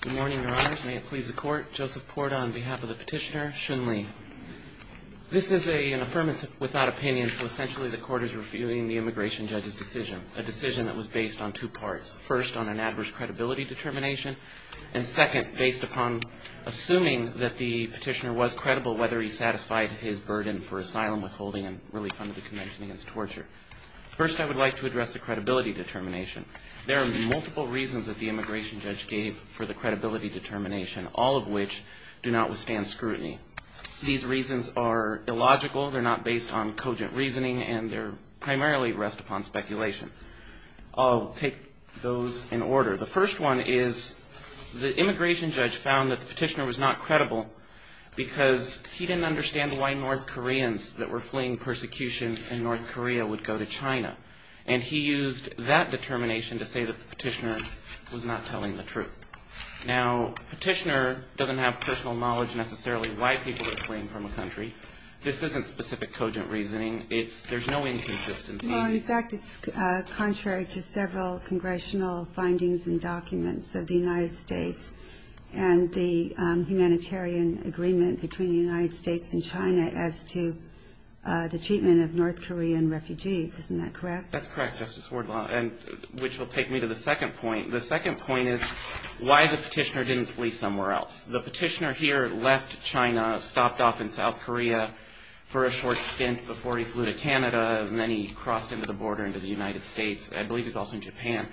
Good morning, Your Honors. May it please the Court. Joseph Porta on behalf of the petitioner. Xun Li. This is an Affirmative Without Opinion, so essentially the Court is reviewing the immigration judge's decision, a decision that was based on two parts. First, on an adverse credibility determination, and second, based upon assuming that the petitioner was credible whether he satisfied his burden for asylum, withholding, and relief under the Convention Against Torture. First, I would like to address the credibility determination. There are multiple reasons that the immigration judge gave for the credibility determination, all of which do not withstand scrutiny. These reasons are illogical, they're not based on cogent reasoning, and they're primarily rest upon speculation. I'll take those in order. The first one is the immigration judge found that the petitioner was not credible because he didn't understand why North Koreans that were fleeing persecution in North Korea would go to China, and he used that determination to say that the petitioner was not telling the truth. Now, the petitioner doesn't have personal knowledge necessarily why people are fleeing from a country. This isn't specific cogent reasoning. There's no inconsistency. Well, in fact, it's contrary to several congressional findings and documents of the United States and the humanitarian agreement between the United States and China as to the treatment of North Korean refugees. Isn't that correct? That's correct, Justice Wardlaw, which will take me to the second point. The second point is why the petitioner didn't flee somewhere else. The petitioner here left China, stopped off in South Korea for a short stint before he flew to Canada, and then he crossed into the border into the United States. I believe he's also in Japan.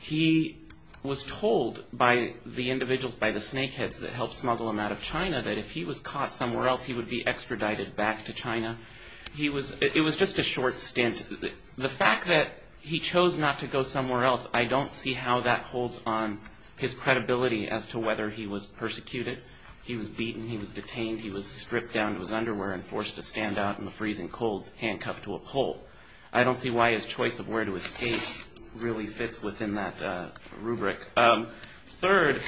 He was told by the individuals, by the snakeheads that helped smuggle him out of China that if he was caught somewhere else, he would be extradited back to China. It was just a short stint. The fact that he chose not to go somewhere else, I don't see how that holds on his credibility as to whether he was persecuted, he was beaten, he was detained, he was stripped down to his underwear and forced to stand out in a freezing cold handcuffed to a pole. I don't see why his choice of where to escape really fits within that rubric. Third,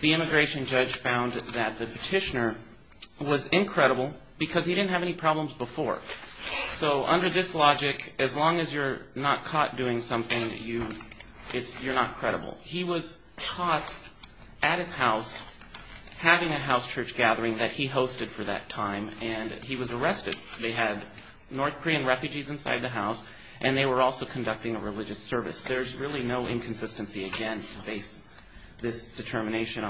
the immigration judge found that the petitioner was incredible because he didn't have any problems before. So under this logic, as long as you're not caught doing something, you're not credible. He was caught at his house having a house church gathering that he hosted for that time, and he was arrested. They had North Korean refugees inside the house and they were also conducting a religious service. There's really no inconsistency again to base this determination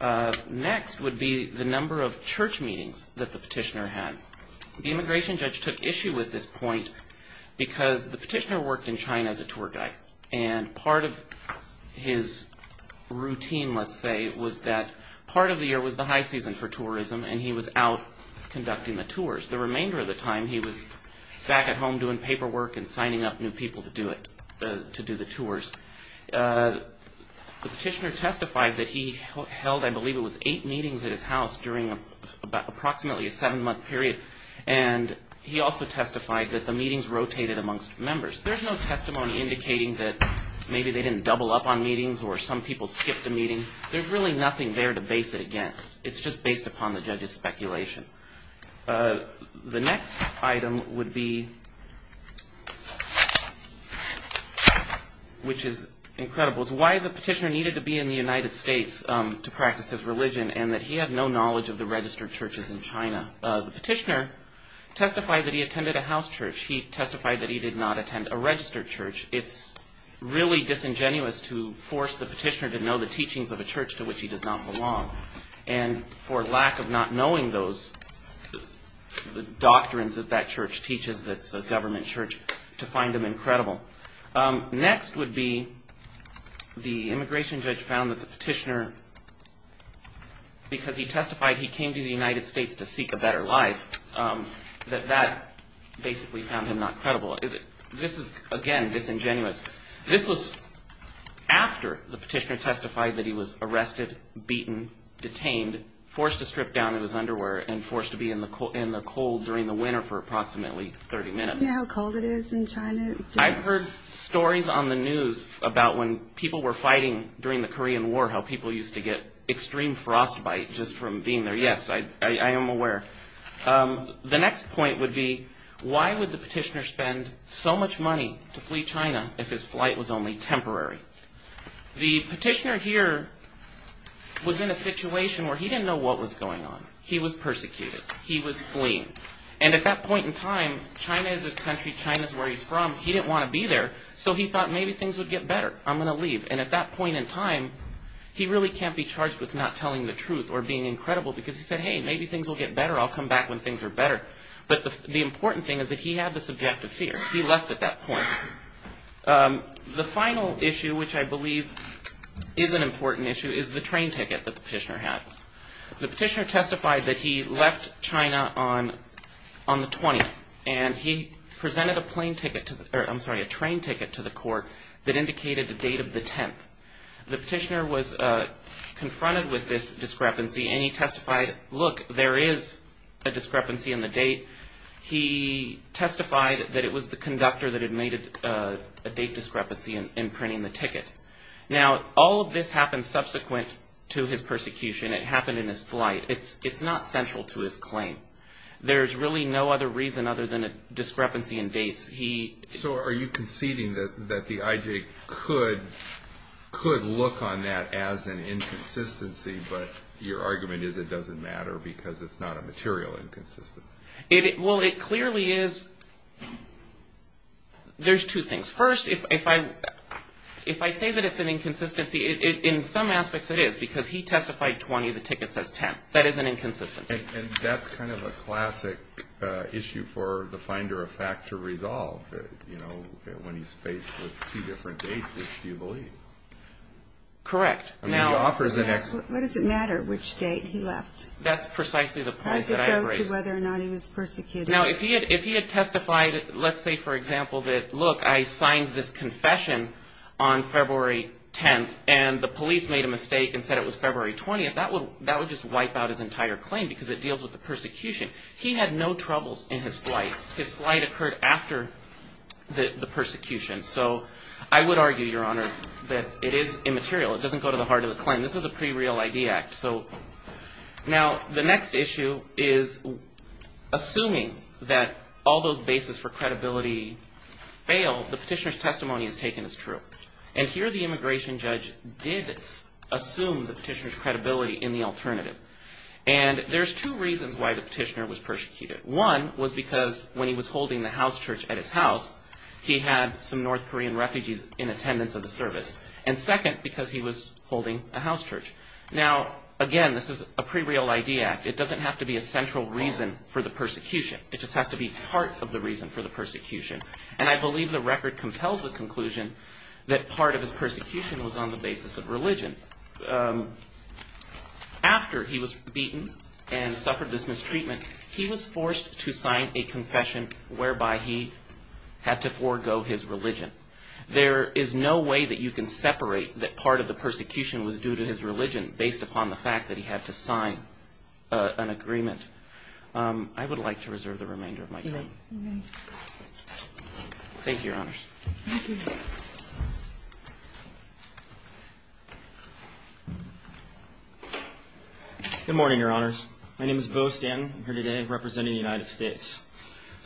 on. Next would be the number of church meetings that the petitioner had. The immigration judge took issue with this point because the petitioner worked in China as a tour guide and part of his routine, let's say, was that part of the year was the high season for tourism and he was out conducting the tours. The remainder of the time he was back at home doing paperwork and signing up new people to do the tours. The petitioner testified that he held, I believe it was, eight meetings at his house during approximately a seven-month period, and he also testified that the meetings rotated amongst members. There's no testimony indicating that maybe they didn't double up on meetings or some people skipped a meeting. There's really nothing there to base it against. It's just based upon the judge's speculation. The next item would be which is incredible, is why the petitioner needed to be in the United States to practice his religion and that he had no knowledge of the registered churches in China. The petitioner testified that he attended a house church. He testified that he did not attend a registered church. It's really disingenuous to force the petitioner to know the teachings of a church to which he does not belong. For lack of not knowing those doctrines that that church teaches, that's a government church, to find him incredible. Next would be the immigration judge found that the petitioner because he testified he came to the United States to seek a better life, that that basically found him not credible. This is, again, disingenuous. This was after the petitioner testified that he was arrested, beaten, detained, forced to strip down in his underwear, and forced to be in the cold during the winter for approximately 30 minutes. I've heard stories on the news about when people were fighting during the Korean War how people used to get extreme frostbite just from being there. Yes, I am aware. The next point would be why would the petitioner spend so much money to flee China if his flight was only temporary? The petitioner here was in a situation where he didn't know what was going on. He was persecuted. He was fleeing. And at that point in time, China is his country. China is where he's from. He didn't want to be there, so he thought maybe things would get better. I'm going to leave. And at that point in time, he really can't be charged with not telling the truth or being incredible because he said, hey, maybe things will get better. I'll come back when things are better. But the important thing is that he had the subjective fear. He left at that point. The final issue which I believe is an important issue is the train ticket that the petitioner was pointing at. The petitioner testified that he left China on the 20th. And he presented a train ticket to the court that indicated the date of the 10th. The petitioner was confronted with this discrepancy and he testified, look, there is a discrepancy in the date. He testified that it was the conductor that had made a date discrepancy in printing the ticket. Now, all of this happened subsequent to his persecution. It happened in his flight. It's not central to his claim. There's really no other reason other than a discrepancy in dates. So are you conceding that the IJ could look on that as an inconsistency, but your argument is it doesn't matter because it's not a material inconsistency? Well, it clearly is. There's two things. First, if I say that it's an inconsistency, in some aspects it is because he testified 20, the ticket says 10. That is an inconsistency. And that's kind of a classic issue for the finder of fact to resolve, you know, when he's faced with two different dates, which do you believe? What does it matter which date he left? Does it go to whether or not he was persecuted? Now, if he had testified, let's say, for example, that, look, I signed this confession on February 10th and the police made a mistake and said it was February 20th, that would just wipe out his entire claim because it deals with the persecution. He had no troubles in his flight. His flight occurred after the persecution, so I would argue, Your Honor, that it is immaterial. It doesn't go to the heart of the claim. This is a pre-real ID act. Now, the next issue is assuming that all those bases for credibility fail, the petitioner's testimony is taken as true. And here the immigration judge did assume the petitioner's credibility in the alternative. And there's two reasons why the petitioner was persecuted. One was because when he was holding the house church at his house, he had some North Korean refugees in attendance of the service. And second, because he was holding a house church. Now, again, this is a pre-real ID act. It doesn't have to be a central reason for the persecution. It just has to be part of the reason for the persecution. And I believe the record compels the conclusion that part of his persecution was on the basis of religion. After he was beaten and suffered this mistreatment, he was forced to sign a confession whereby he had to forego his religion. There is no way that you can separate that part of the persecution was due to his religion based upon the fact that he had to sign an agreement. I would like to reserve the remainder of my time. Thank you, Your Honors. Good morning, Your Honors. My name is Beau Stanton. I'm here today representing the United States.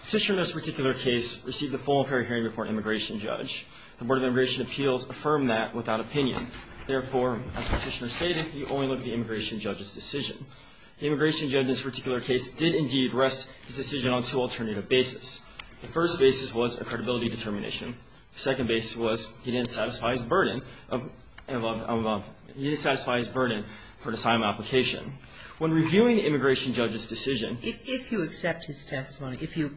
Petitioner in this particular case received a full and fair hearing before an immigration judge. The Board of Immigration Appeals affirmed that without an opinion, therefore, as Petitioner stated, he only looked at the immigration judge's decision. The immigration judge in this particular case did, indeed, rest his decision on two alternative bases. The first basis was a credibility determination. The second basis was he didn't satisfy his burden of he didn't satisfy his burden for an asylum application. When reviewing the immigration judge's decision If you accept his testimony, if you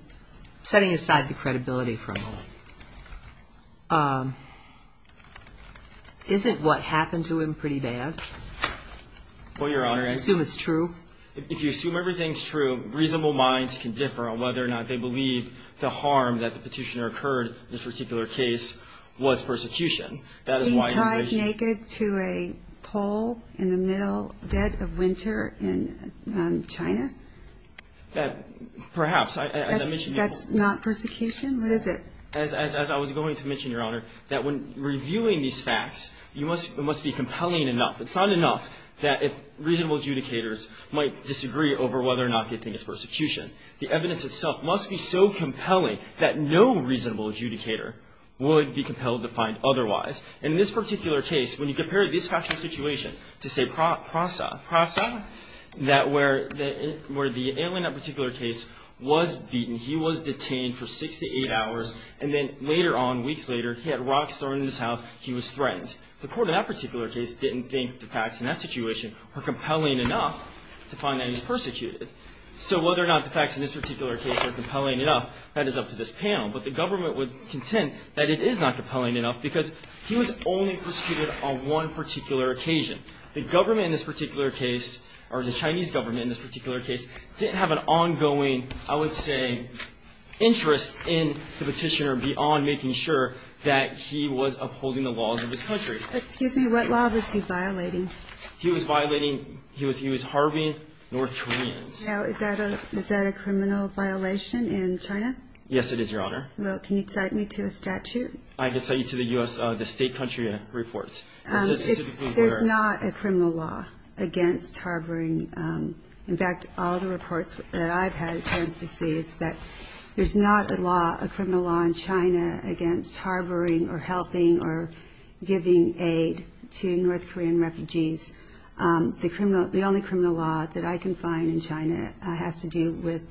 setting aside the credibility from isn't what happened to him pretty bad? Well, Your Honor, I assume it's true. If you assume everything's true, reasonable minds can differ on whether or not they believe the harm that the petitioner occurred in this particular case was persecution. That is why immigration He died naked to a pole in the middle dead of winter in China? Perhaps. That's not persecution? What is it? As I was going to mention, Your Honor, that when reviewing these facts it must be compelling enough. It's not enough that if reasonable adjudicators might disagree over whether or not they think it's persecution. The evidence itself must be so compelling that no reasonable adjudicator would be compelled to find otherwise. In this particular case, when you compare this factual situation to, say, PRASA, where the alien in that particular case was beaten, he was and then later on, weeks later, he had rocks thrown in his house, he was threatened. The court in that particular case didn't think the facts in that situation were compelling enough to find that he was persecuted. So whether or not the facts in this particular case are compelling enough, that is up to this panel. But the government would contend that it is not compelling enough because he was only persecuted on one particular occasion. The government in this particular case, or the Chinese government in this particular case, didn't have an ongoing, I would say, interest in the Petitioner beyond making sure that he was upholding the laws of this country. But, excuse me, what law was he violating? He was violating, he was harboring North Koreans. Now, is that a criminal violation in China? Yes, it is, Your Honor. Well, can you cite me to a statute? I can cite you to the U.S. State country reports. There's not a criminal law against harboring, in fact, all the reports that I've had of North Koreans deceased, that there's not a law, a criminal law in China against harboring or helping or giving aid to North Korean refugees. The only criminal law that I can find in China has to do with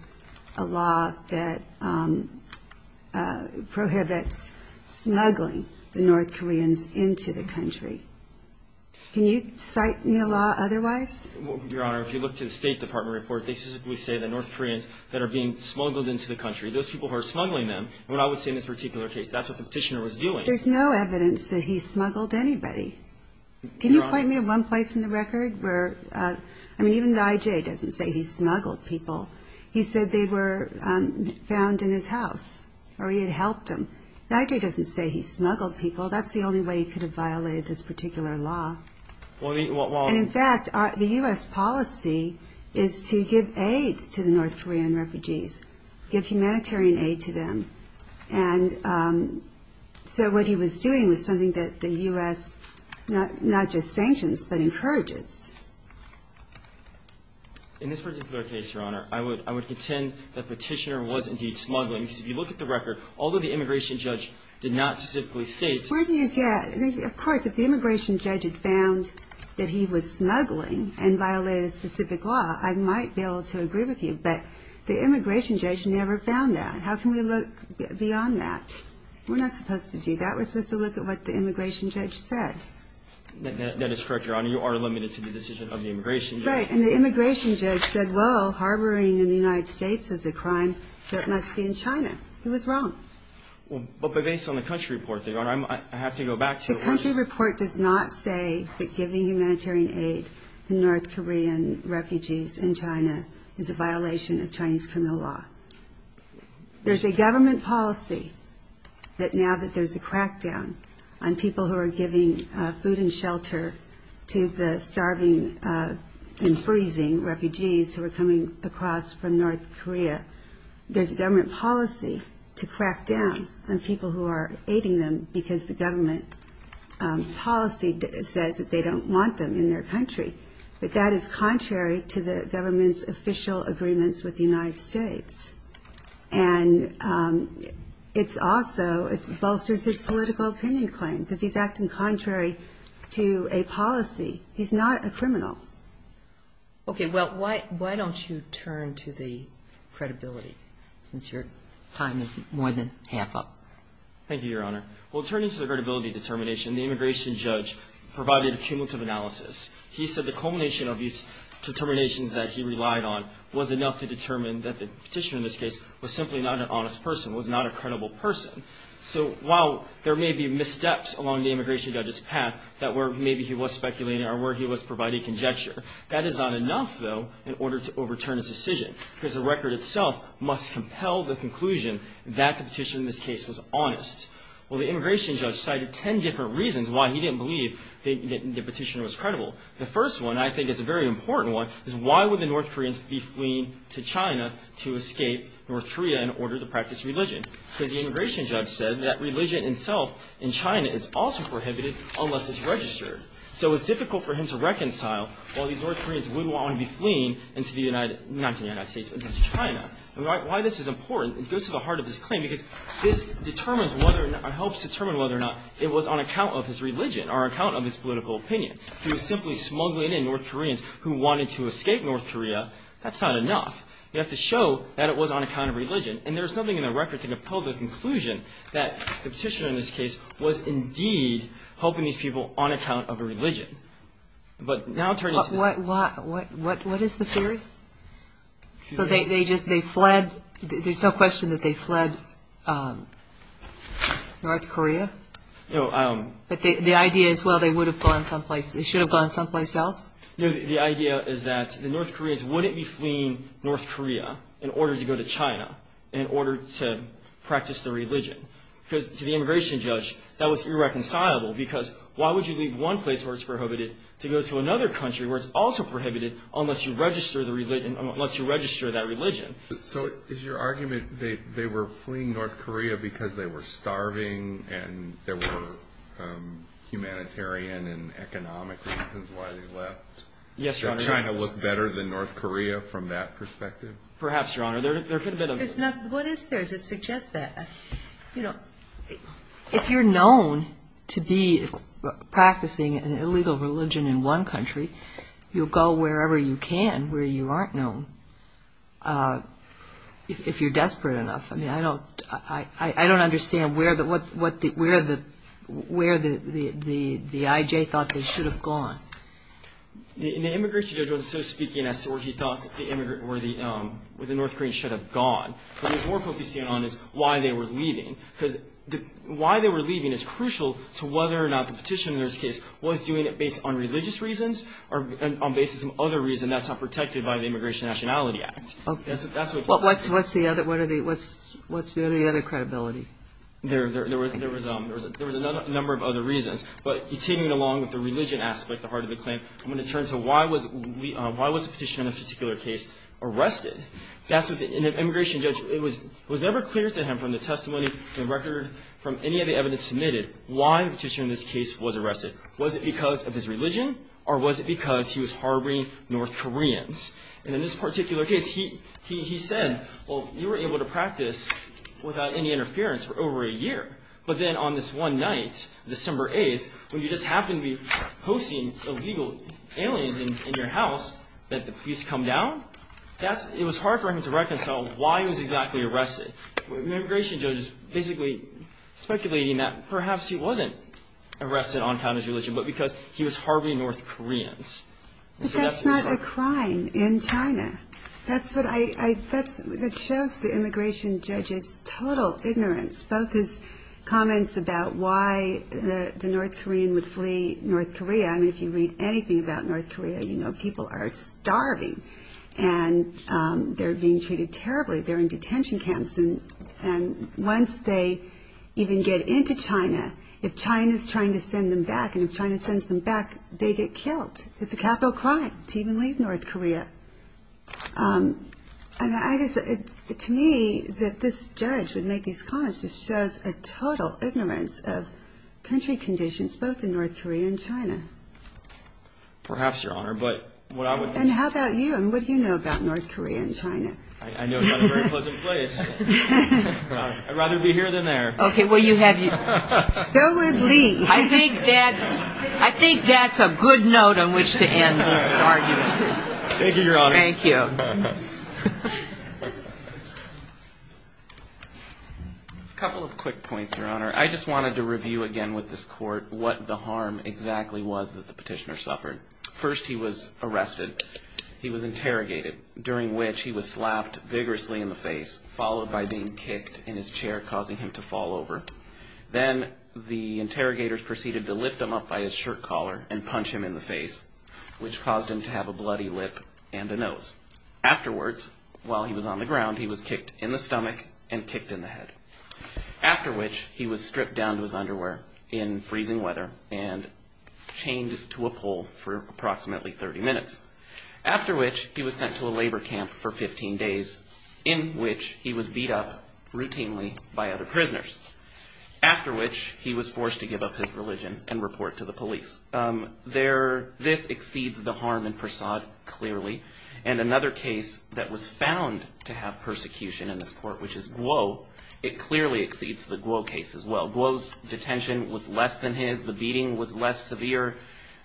a law that prohibits smuggling the North Koreans into the country. Can you cite me a law otherwise? Your Honor, if you look to the State Department report, they specifically say that North Koreans that are being smuggled into the country, those people who are smuggling them, what I would say in this particular case, that's what the Petitioner was doing. There's no evidence that he smuggled anybody. Can you point me to one place in the record where, I mean, even the I.J. doesn't say he smuggled people. He said they were found in his house or he had helped them. The I.J. doesn't say he smuggled people. That's the only way he could have violated this particular law. And, in fact, the U.S. policy is to give aid to the North Korean refugees, give humanitarian aid to them. And so what he was doing was something that the U.S. not just sanctions but encourages. In this particular case, Your Honor, I would contend that Petitioner was indeed smuggling because if you look at the record, although the immigration judge did not specifically state Of course, if the immigration judge had found that he was smuggling and violated a specific law, I might be able to agree with you. But the immigration judge never found that. How can we look beyond that? We're not supposed to do that. We're supposed to look at what the immigration judge said. That is correct, Your Honor. You are limited to the decision of the immigration judge. Right. And the immigration judge said, well, harboring in the United States is a crime, so it must be in China. He was wrong. Well, but based on the country report, Your Honor, I have to go back to the country. The country report does not say that giving humanitarian aid to North Korean refugees in China is a violation of Chinese criminal law. There's a government policy that now that there's a crackdown on people who are giving food and shelter to the starving and freezing refugees who are coming across from North Korea, there's a government policy to crackdown on people who are aiding them because the government policy says that they don't want them in their country. But that is contrary to the government's official agreements with the United States. And it's also, it bolsters his political opinion claim because he's acting contrary to a policy. He's not a criminal. Okay. Well, why don't you turn to the credibility since your time is more than half up. Thank you, Your Honor. Well, turning to the credibility determination, the immigration judge provided a cumulative analysis. He said the culmination of these determinations that he relied on was enough to determine that the petitioner in this case was simply not an honest person, was not a credible person. So while there may be missteps along the immigration judge's path that were maybe he was speculating or where he was providing conjecture, that is not enough, though, in order to overturn his decision because the record itself must compel the conclusion that the petitioner in this case was honest. Well, the immigration judge cited 10 different reasons why he didn't believe the petitioner was credible. The first one, I think, is a very important one, is why would the North Koreans be fleeing to China to escape North Korea in order to practice religion? Because the immigration judge said that religion itself in China is also prohibited unless it's registered. So it's difficult for him to reconcile why these North Koreans would want to be fleeing into the United States, not to the United States, but to China. And why this is important, it goes to the heart of his claim because this determines whether or not or helps determine whether or not it was on account of his religion or on account of his political opinion. If he was simply smuggling in North Koreans who wanted to escape North Korea, that's not enough. You have to show that it was on account of religion. And there's nothing in the record to compel the conclusion that the petitioner in this case was indeed helping these people on account of religion. But now it turns out. What is the theory? So they just fled? There's no question that they fled North Korea? No, I don't know. But the idea is, well, they would have gone someplace. They should have gone someplace else? No, the idea is that the North Koreans wouldn't be fleeing North Korea in order to go to China in order to practice their religion. Because to the immigration judge, that was irreconcilable, because why would you leave one place where it's prohibited to go to another country where it's also prohibited unless you register that religion? So is your argument they were fleeing North Korea because they were starving and there were humanitarian and economic reasons why they left? Yes, Your Honor. Did China look better than North Korea from that perspective? Perhaps, Your Honor. What is there to suggest that? If you're known to be practicing an illegal religion in one country, you'll go wherever you can where you aren't known if you're desperate enough. I mean, I don't understand where the I.J. thought they should have gone. The immigration judge wasn't so speaking as to where he thought the North Koreans should have gone. What he was more focusing on is why they were leaving. Because why they were leaving is crucial to whether or not the petitioner's case was doing it based on religious reasons or based on some other reason that's not protected by the Immigration and Nationality Act. Okay. That's what he thought. What's the other credibility? There was a number of other reasons. But taking it along with the religion aspect, the heart of the claim, I'm going to turn to why was the petitioner in this particular case arrested? And the immigration judge, was it ever clear to him from the testimony, from the record, from any of the evidence submitted, why the petitioner in this case was arrested? Was it because of his religion or was it because he was harboring North Koreans? And in this particular case, he said, well, you were able to practice without any interference for over a year. But then on this one night, December 8th, when you just happened to be hosting illegal aliens in your house, that the police come down? It was hard for him to reconcile why he was exactly arrested. The immigration judge is basically speculating that perhaps he wasn't arrested on account of his religion but because he was harboring North Koreans. But that's not a crime in China. That shows the immigration judge's total ignorance, both his comments about why the North Korean would flee North Korea. I mean, if you read anything about North Korea, you know people are starving and they're being treated terribly. They're in detention camps. And once they even get into China, if China's trying to send them back, and if China sends them back, they get killed. It's a capital crime to even leave North Korea. I guess to me that this judge would make these comments just shows a total ignorance of country conditions, both in North Korea and China. Perhaps, Your Honor, but what I would. And how about you? And what do you know about North Korea and China? I know it's not a very pleasant place. I'd rather be here than there. Okay. Well, you have your. Go with Lee. I think that's a good note on which to end this argument. Thank you, Your Honor. Thank you. A couple of quick points, Your Honor. I just wanted to review again with this court what the harm exactly was that the petitioner suffered. First, he was arrested. He was interrogated, during which he was slapped vigorously in the face, followed by being kicked in his chair, causing him to fall over. Then the interrogators proceeded to lift him up by his shirt collar and punch him in the face, which caused him to have a bloody lip and a nose. Afterwards, while he was on the ground, he was kicked in the stomach and kicked in the head, after which he was stripped down to his underwear in freezing weather and chained to a pole for approximately 30 minutes, after which he was sent to a labor camp for 15 days, in which he was beat up routinely by other prisoners, after which he was forced to give up his religion and report to the police. This exceeds the harm in Persaud, clearly. And another case that was found to have persecution in this court, which is Guo, it clearly exceeds the Guo case as well. Guo's detention was less than his. The beating was less severe.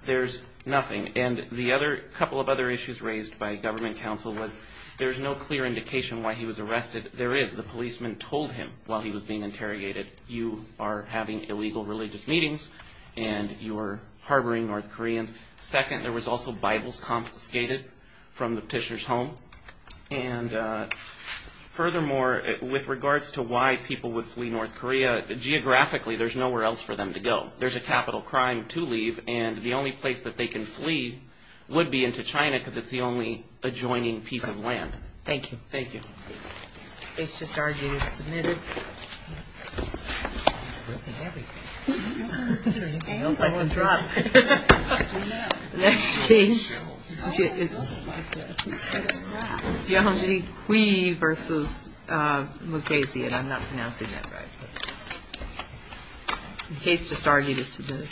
There's nothing. And the other couple of other issues raised by government counsel was there's no clear indication why he was arrested. There is. The policeman told him while he was being interrogated, you are having illegal religious meetings and you are harboring North Koreans. Second, there was also Bibles confiscated from the petitioner's home. And furthermore, with regards to why people would flee North Korea, geographically there's nowhere else for them to go. There's a capital crime to leave, and the only place that they can flee would be into China because it's the only adjoining piece of land. Thank you. Thank you. The case just argued is submitted. The next case is Zhang Jikui v. Mukasey, and I'm not pronouncing that right. The case just argued is submitted.